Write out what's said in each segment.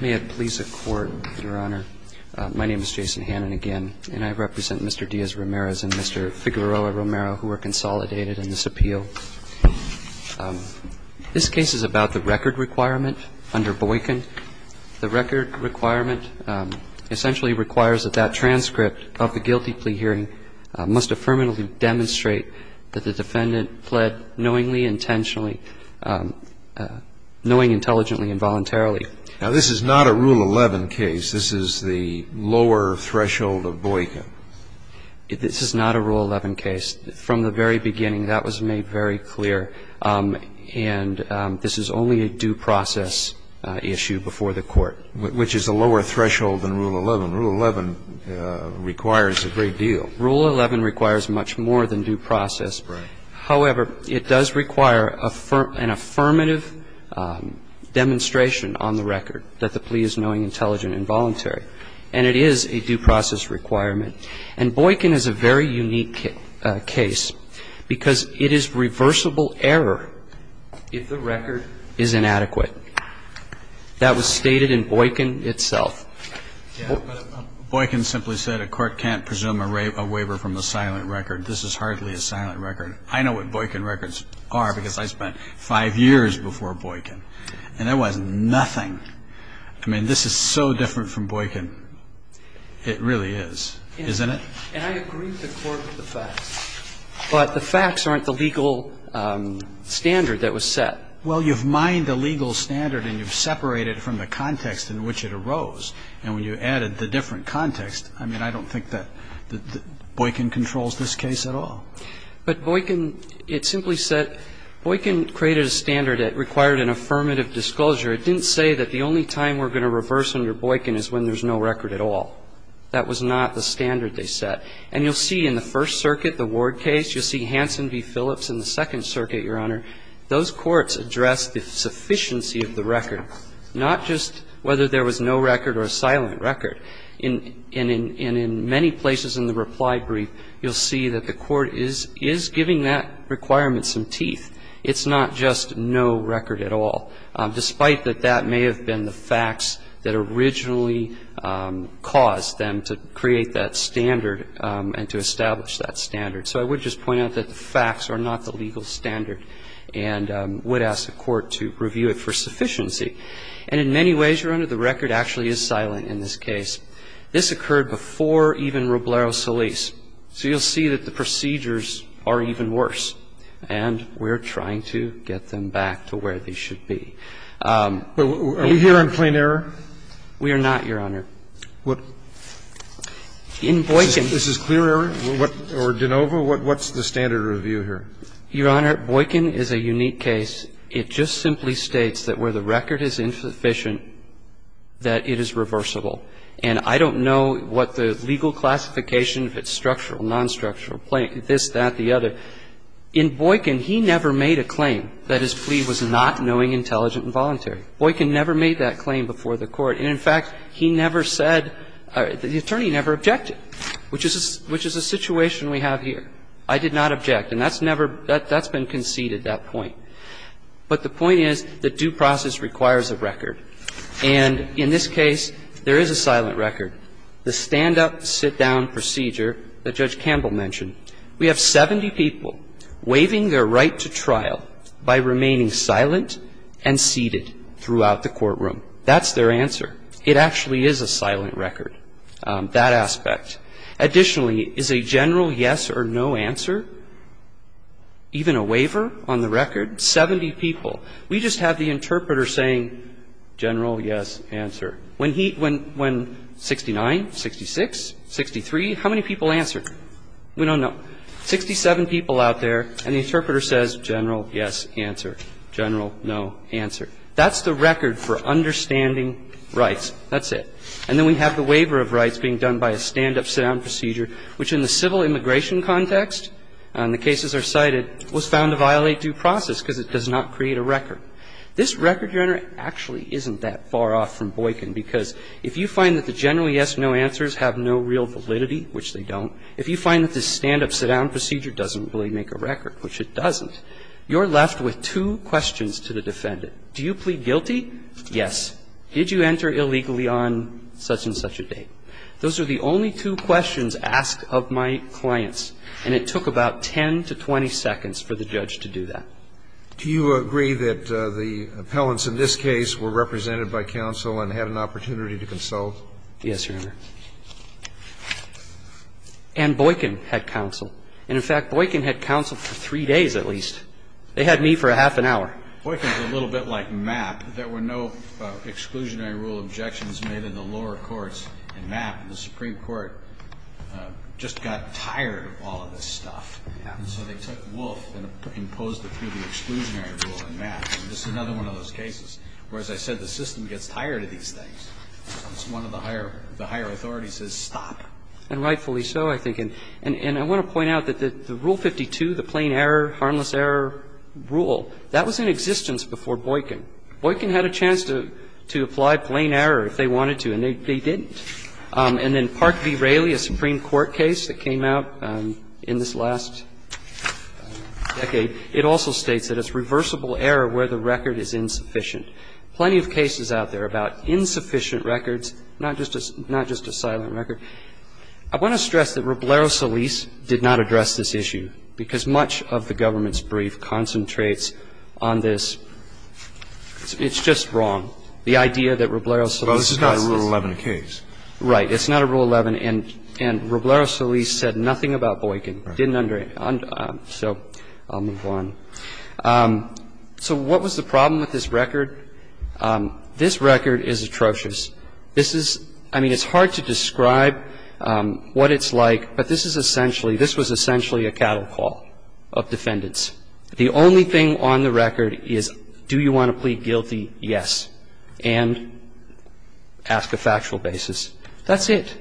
May it please the Court, Your Honor. My name is Jason Hannan again, and I represent Mr. Diaz-Ramirez and Mr. Figueroa-Romero, who are consolidated in this appeal. This case is about the record requirement under Boykin. The record requirement essentially requires that that transcript of the guilty plea hearing must affirmatively demonstrate that the defendant fled knowingly, intentionally, knowing intelligently and voluntarily. Now, this is not a Rule 11 case. This is the lower threshold of Boykin. This is not a Rule 11 case. From the very beginning, that was made very clear. And this is only a due process issue before the Court. Which is a lower threshold than Rule 11. Rule 11 requires a great deal. Rule 11 requires much more than due process. However, it does require an affirmative demonstration on the record that the plea is knowing, intelligent and voluntary. And it is a due process requirement. And Boykin is a very unique case because it is reversible error if the record is inadequate. That was stated in Boykin itself. Boykin simply said a court can't presume a waiver from the silent record. This is hardly a silent record. I know what Boykin records are because I spent five years before Boykin. And there was nothing. I mean, this is so different from Boykin. It really is. Isn't it? And I agree with the court with the facts. But the facts aren't the legal standard that was set. Well, you've mined the legal standard and you've separated it from the context in which it arose. And when you added the different context, I mean, I don't think that Boykin controls this case at all. But Boykin, it simply said Boykin created a standard that required an affirmative disclosure. It didn't say that the only time we're going to reverse under Boykin is when there's no record at all. That was not the standard they set. And you'll see in the First Circuit, the Ward case, you'll see Hansen v. Phillips in the Second Circuit, Your Honor, those courts addressed the sufficiency of the record, not just whether there was no record or a silent record. And in many places in the reply brief, you'll see that the Court is giving that requirement some teeth. It's not just no record at all, despite that that may have been the facts that originally caused them to create that standard and to establish that standard. So I would just point out that the facts are not the legal standard and would ask the Court to review it for sufficiency. And in many ways, Your Honor, the record actually is silent in this case. This occurred before even Roblero Solis. So you'll see that the procedures are even worse. And we're trying to get them back to where they should be. Are we here on plain error? We are not, Your Honor. In Boykin. Is this clear error or de novo? What's the standard review here? Your Honor, Boykin is a unique case. It just simply states that where the record is insufficient, that it is reversible. And I don't know what the legal classification, if it's structural, nonstructural, this, that, the other. In Boykin, he never made a claim that his plea was not knowing, intelligent and voluntary. Boykin never made that claim before the Court. And in fact, he never said or the attorney never objected, which is a situation we have here. I did not object. And that's never been conceded, that point. But the point is that due process requires a record. And in this case, there is a silent record. The stand-up, sit-down procedure that Judge Campbell mentioned, we have 70 people waiving their right to trial by remaining silent and seated throughout the courtroom. That's their answer. It actually is a silent record, that aspect. Additionally, is a general yes or no answer even a waiver on the record? Seventy people. We just have the interpreter saying general yes, answer. When he – when 69, 66, 63, how many people answered? We don't know. Sixty-seven people out there, and the interpreter says general yes, answer. General no, answer. That's the record for understanding rights. That's it. And then we have the waiver of rights being done by a stand-up, sit-down procedure, which in the civil immigration context, and the cases are cited, was found to violate due process because it does not create a record. This record you're entering actually isn't that far off from Boykin, because if you find that the general yes, no answers have no real validity, which they don't, if you find that the stand-up, sit-down procedure doesn't really make a record, which it doesn't, you're left with two questions to the defendant. Do you plead guilty? Yes. Did you enter illegally on such-and-such a date? Those are the only two questions asked of my clients. And it took about 10 to 20 seconds for the judge to do that. Do you agree that the appellants in this case were represented by counsel and had an opportunity to consult? Yes, Your Honor. And Boykin had counsel. And in fact, Boykin had counsel for three days at least. They had me for a half an hour. Boykin is a little bit like Mapp. There were no exclusionary rule objections made in the lower courts in Mapp. The Supreme Court just got tired of all of this stuff. And so they took Wolf and imposed it through the exclusionary rule in Mapp. And this is another one of those cases where, as I said, the system gets tired of these things. It's one of the higher authorities that says stop. And rightfully so, I think. And I want to point out that the Rule 52, the plain error, harmless error rule, that was in existence before Boykin. Boykin had a chance to apply plain error if they wanted to, and they didn't. And then Park v. Raley, a Supreme Court case that came out in this last decade, it also states that it's reversible error where the record is insufficient. Plenty of cases out there about insufficient records, not just a silent record. I want to stress that Roblero Solis did not address this issue because much of the evidence on this, it's just wrong, the idea that Roblero Solis is not a case. Breyer. Well, this is not a Rule 11 case. Right. It's not a Rule 11. And Roblero Solis said nothing about Boykin. Didn't under, so I'll move on. So what was the problem with this record? This record is atrocious. This is, I mean, it's hard to describe what it's like. But this is essentially, this was essentially a cattle call of defendants. The only thing on the record is, do you want to plead guilty? Yes. And ask a factual basis. That's it.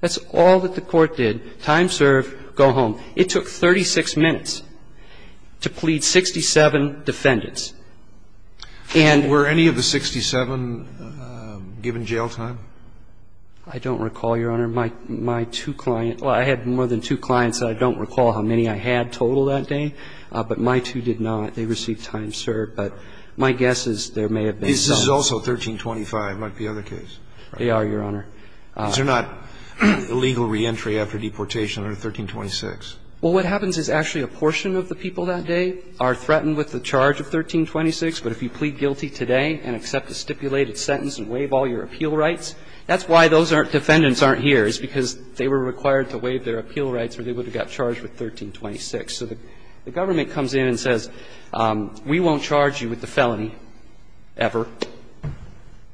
That's all that the Court did. Time served. Go home. It took 36 minutes to plead 67 defendants. And were any of the 67 given jail time? I don't recall, Your Honor. My two clients, well, I had more than two clients, so I don't recall how many I had in total that day. But my two did not. They received time served. But my guess is there may have been some. This is also 1325. It might be another case. They are, Your Honor. These are not illegal reentry after deportation under 1326. Well, what happens is actually a portion of the people that day are threatened with the charge of 1326. But if you plead guilty today and accept a stipulated sentence and waive all your appeal rights, that's why those defendants aren't here, is because they were required to waive their appeal rights or they would have got charged with 1326. So the government comes in and says, we won't charge you with the felony ever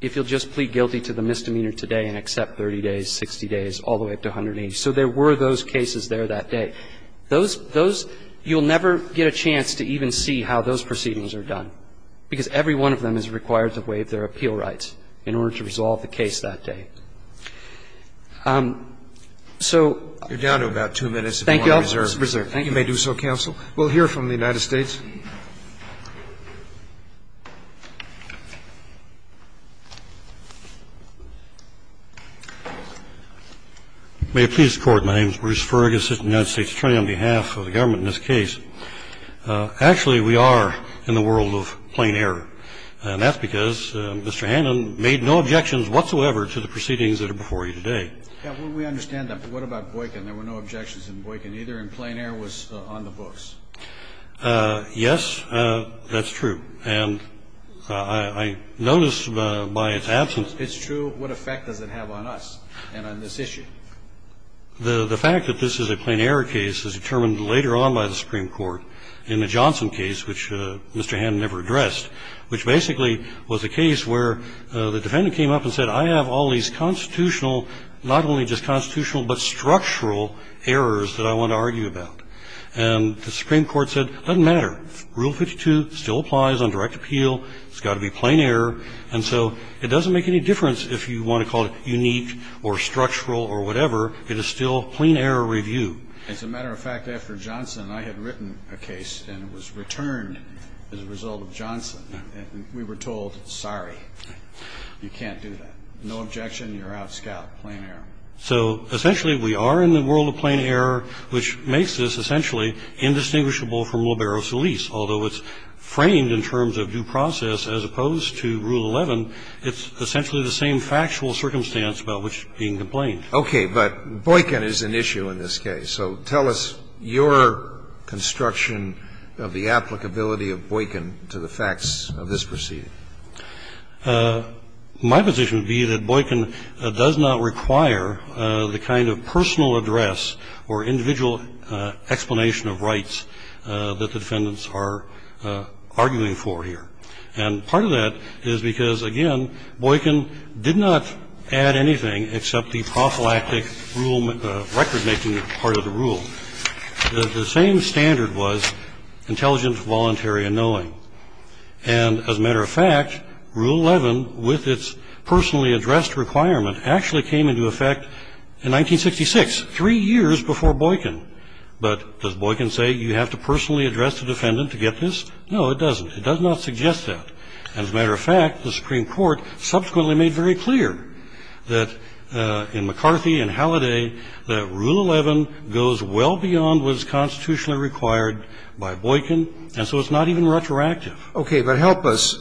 if you'll just plead guilty to the misdemeanor today and accept 30 days, 60 days, all the way up to 180. So there were those cases there that day. Those you'll never get a chance to even see how those proceedings are done, because every one of them is required to waive their appeal rights in order to resolve the case that day. So you're down to about two minutes if you want to reserve. Thank you, Your Honor. You may do so, counsel. We'll hear from the United States. May it please the Court. My name is Bruce Fergus, Assistant United States Attorney on behalf of the government in this case. Actually, we are in the world of plain error, and that's because Mr. Hannan made no objections whatsoever to the proceedings that are before you today. Yeah, well, we understand that. But what about Boykin? There were no objections in Boykin either, and plain error was on the books. Yes, that's true. And I noticed by its absence. It's true. What effect does it have on us and on this issue? The fact that this is a plain error case is determined later on by the Supreme Court in the Johnson case, which Mr. Hannan never addressed, which basically was a case where the defendant came up and said, I have all these constitutional, not only just constitutional, but structural errors that I want to argue about. And the Supreme Court said, doesn't matter. Rule 52 still applies on direct appeal. It's got to be plain error. And so it doesn't make any difference if you want to call it unique or structural or whatever. It is still plain error review. As a matter of fact, after Johnson, I had written a case, and it was returned as a result of Johnson. We were told, sorry, you can't do that. No objection. You're out, Scout. Plain error. So essentially we are in the world of plain error, which makes this essentially indistinguishable from libero solis, although it's framed in terms of due process as opposed to Rule 11. It's essentially the same factual circumstance about which it's being complained. But Boykin is an issue in this case. So tell us your construction of the applicability of Boykin to the facts of this proceeding. My position would be that Boykin does not require the kind of personal address or individual explanation of rights that the defendants are arguing for here. And part of that is because, again, Boykin did not add anything except the prophylactic record-making part of the rule. The same standard was intelligent, voluntary, and knowing. And as a matter of fact, Rule 11, with its personally addressed requirement, actually came into effect in 1966, three years before Boykin. But does Boykin say you have to personally address the defendant to get this? No, it doesn't. It does not suggest that. And as a matter of fact, the Supreme Court subsequently made very clear that in McCarthy and Halliday that Rule 11 goes well beyond what is constitutionally required by Boykin, and so it's not even retroactive. Okay. But help us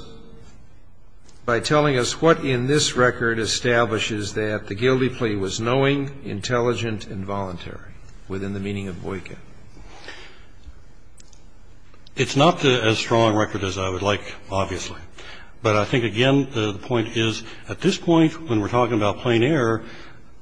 by telling us what in this record establishes that the guilty plea was knowing, intelligent, and voluntary within the meaning of Boykin. It's not as strong a record as I would like, obviously. But I think, again, the point is, at this point, when we're talking about plain error,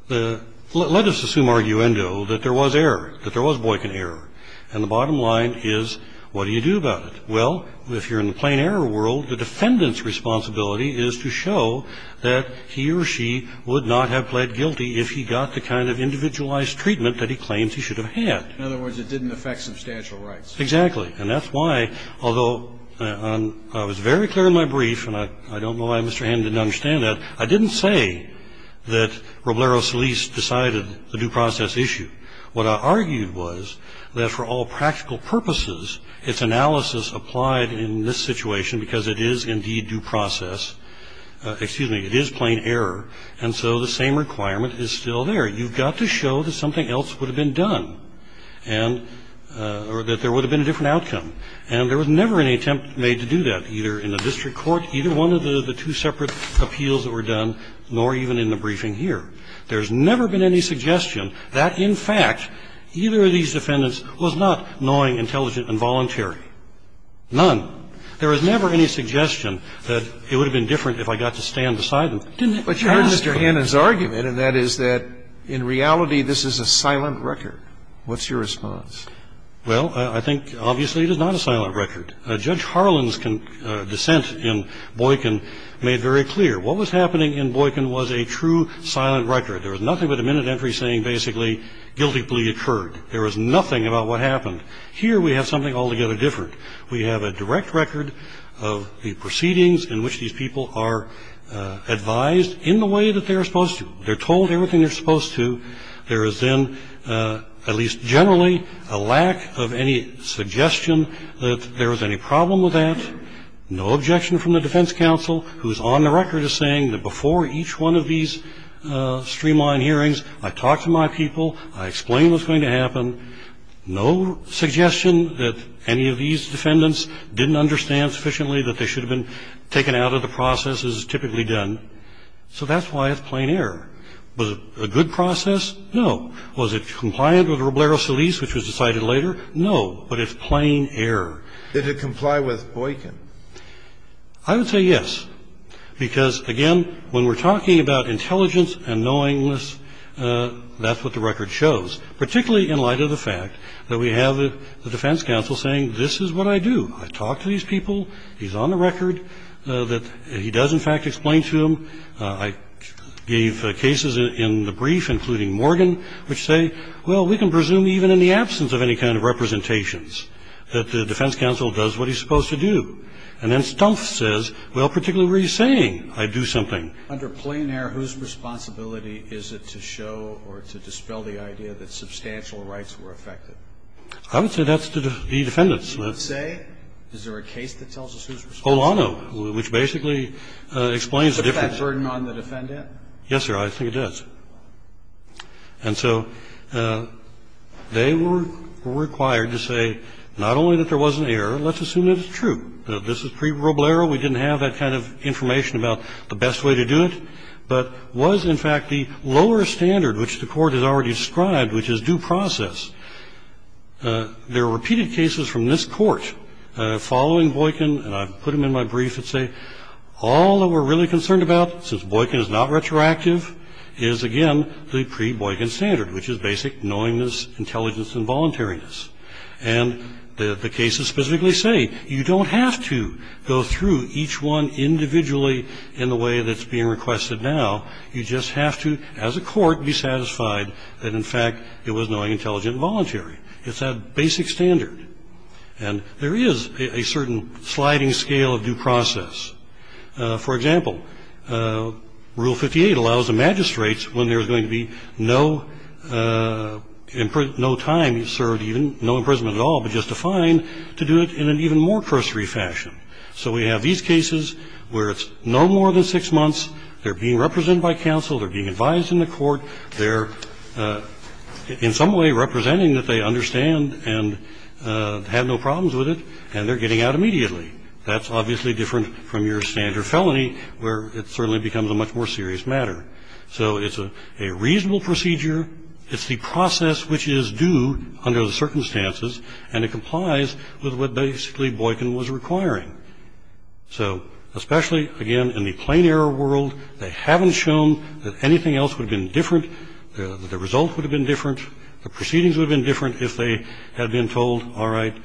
let us assume, arguendo, that there was error, that there was Boykin error. And the bottom line is, what do you do about it? Well, if you're in the plain error world, the defendant's responsibility is to show that he or she would not have pled guilty if he got the kind of individualized treatment that he claims he should have had. In other words, it didn't affect substantial rights. Exactly. And that's why, although I was very clear in my brief, and I don't know why Mr. Hammond didn't understand that, I didn't say that Roblero Solis decided the due process issue. What I argued was that for all practical purposes, its analysis applied in this situation, because it is indeed due process. Excuse me. It is plain error. And so the same requirement is still there. You've got to show that something else would have been done, and or that there would have been a different outcome. And there was never any attempt made to do that, either in the district court, either one of the two separate appeals that were done, nor even in the briefing here. There's never been any suggestion that, in fact, either of these defendants was not knowing, intelligent, and voluntary. None. There was never any suggestion that it would have been different if I got to stand beside them. Didn't it? But you heard Mr. Hannan's argument, and that is that in reality, this is a silent record. What's your response? Well, I think, obviously, it is not a silent record. Judge Harlan's dissent in Boykin made very clear. What was happening in Boykin was a true silent record. There was nothing but a minute entry saying, basically, guilty plea occurred. There was nothing about what happened. Here, we have something altogether different. We have a direct record of the proceedings in which these people are advised in the way that they are supposed to. They're told everything they're supposed to. There is then, at least generally, a lack of any suggestion that there was any problem with that. No objection from the defense counsel, who's on the record as saying that before each one of these streamlined hearings, I talked to my people. I explained what's going to happen. No suggestion that any of these defendants didn't understand sufficiently that they should have been taken out of the process as is typically done. So that's why it's plain error. Was it a good process? No. Was it compliant with Roblero Solis, which was decided later? No. But it's plain error. Did it comply with Boykin? I would say yes, because, again, when we're talking about intelligence and knowingness, that's what the record shows, particularly in light of the fact that we have the defense counsel saying this is what I do. I talk to these people. He's on the record that he does, in fact, explain to them. I gave cases in the brief, including Morgan, which say, well, we can presume even in the absence of any kind of representations that the defense counsel does what he's supposed to do. And then Stumpf says, well, particularly where he's saying I do something. Under plain error, whose responsibility is it to show or to dispel the idea that substantial rights were affected? I would say that's the defendants. You would say? Is there a case that tells us who's responsible? Oh, no, which basically explains the difference. Does that burden on the defendant? Yes, sir. I think it does. And so they were required to say not only that there wasn't error, let's assume it's true. This is pre-verbal error. We didn't have that kind of information about the best way to do it. But was, in fact, the lower standard, which the Court has already described, which is due process. There are repeated cases from this Court following Boykin, and I've put them in my not retroactive, is, again, the pre-Boykin standard, which is basic knowingness, intelligence, and voluntariness. And the cases specifically say you don't have to go through each one individually in the way that's being requested now. You just have to, as a court, be satisfied that, in fact, it was knowing, intelligent, and voluntary. It's that basic standard. And there is a certain sliding scale of due process. For example, Rule 58 allows the magistrates, when there's going to be no time served, even, no imprisonment at all, but just a fine, to do it in an even more cursory fashion. So we have these cases where it's no more than six months, they're being represented by counsel, they're being advised in the court, they're in some way representing that they understand and have no problems with it, and they're getting out immediately. That's obviously different from your standard felony, where it certainly becomes a much more serious matter. So it's a reasonable procedure. It's the process which is due under the circumstances, and it complies with what basically Boykin was requiring. So especially, again, in the plain error world, they haven't shown that anything else would have been different, that the result would have been different, the proceedings would have been different if they had been told, all right,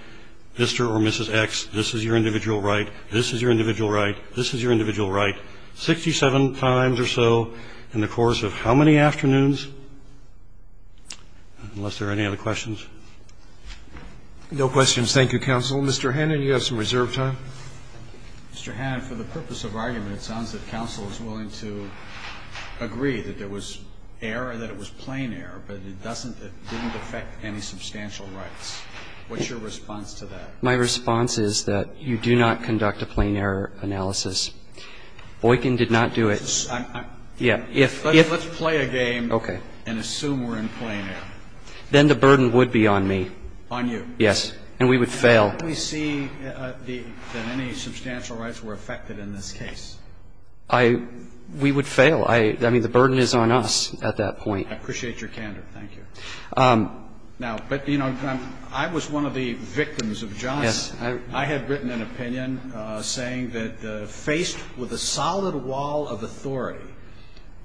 Mr. or Mrs. X, this is your individual right, this is your individual right, this is your individual right, 67 times or so in the course of how many afternoons? Unless there are any other questions. Roberts. No questions. Thank you, counsel. Mr. Hannon, you have some reserve time. Hannon. Mr. Hannon, for the purpose of argument, it sounds that counsel is willing to agree that there was error, that it was plain error, but it doesn't affect any substantial rights. What's your response to that? My response is that you do not conduct a plain error analysis. Boykin did not do it. Let's play a game and assume we're in plain error. Then the burden would be on me. On you. Yes. And we would fail. We see that any substantial rights were affected in this case. We would fail. I mean, the burden is on us at that point. I appreciate your candor. Thank you. Now, but, you know, I was one of the victims of Johnson. Yes. I had written an opinion saying that faced with a solid wall of authority,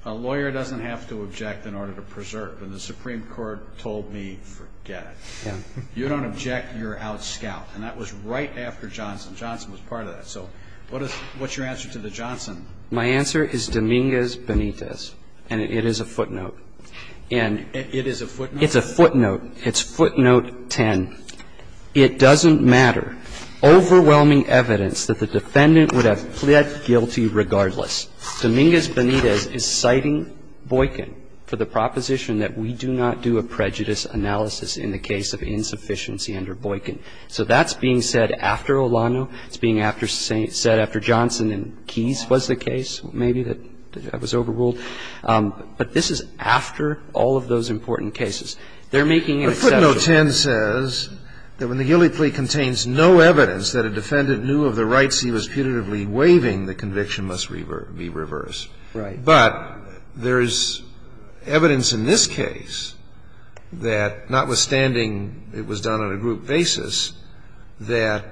a lawyer doesn't have to object in order to preserve. And the Supreme Court told me, forget it. Yes. You don't object, you're out scout. And that was right after Johnson. Johnson was part of that. So what's your answer to the Johnson? My answer is Dominguez-Benitez, and it is a footnote. It is a footnote? It's a footnote. It's footnote 10. It doesn't matter. Overwhelming evidence that the defendant would have pled guilty regardless. Dominguez-Benitez is citing Boykin for the proposition that we do not do a prejudice analysis in the case of insufficiency under Boykin. So that's being said after Olano. It's being said after Johnson and Keyes was the case maybe that was overruled. But this is after all of those important cases. They're making an exception. But footnote 10 says that when the ghillie plea contains no evidence that a defendant knew of the rights he was putatively waiving, the conviction must be reversed. Right. But there is evidence in this case that, notwithstanding it was done on a group basis, that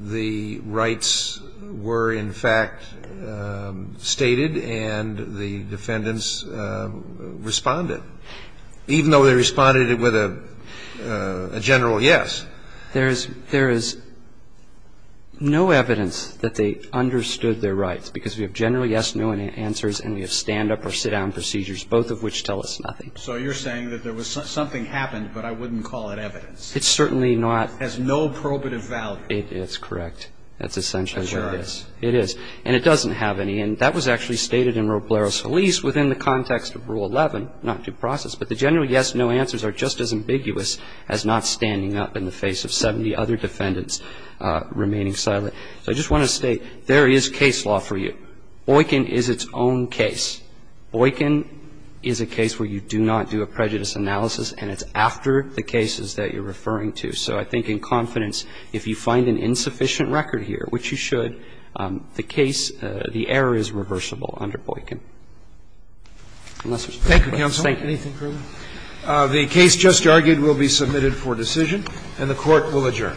the rights were in fact stated and the defendants responded. Even though they responded with a general yes. There is no evidence that they understood their rights, because we have general yes, no answers, and we have stand-up or sit-down procedures, both of which tell us nothing. So you're saying that there was something happened, but I wouldn't call it evidence. It's certainly not. It has no probative value. It's correct. That's essentially what it is. That's right. And it doesn't have any. And that was actually stated in Roblero's Feliz within the context of Rule 11, not due process, but the general yes, no answers are just as ambiguous as not standing up in the face of 70 other defendants remaining silent. So I just want to state there is case law for you. Boykin is its own case. Boykin is a case where you do not do a prejudice analysis, and it's after the cases that you're referring to. So I think in confidence, if you find an insufficient record here, which you should, the case, the error is reversible under Boykin. Unless there's further questions. Thank you. Thank you, counsel. Anything further? The case just argued will be submitted for decision, and the Court will adjourn. Thank you.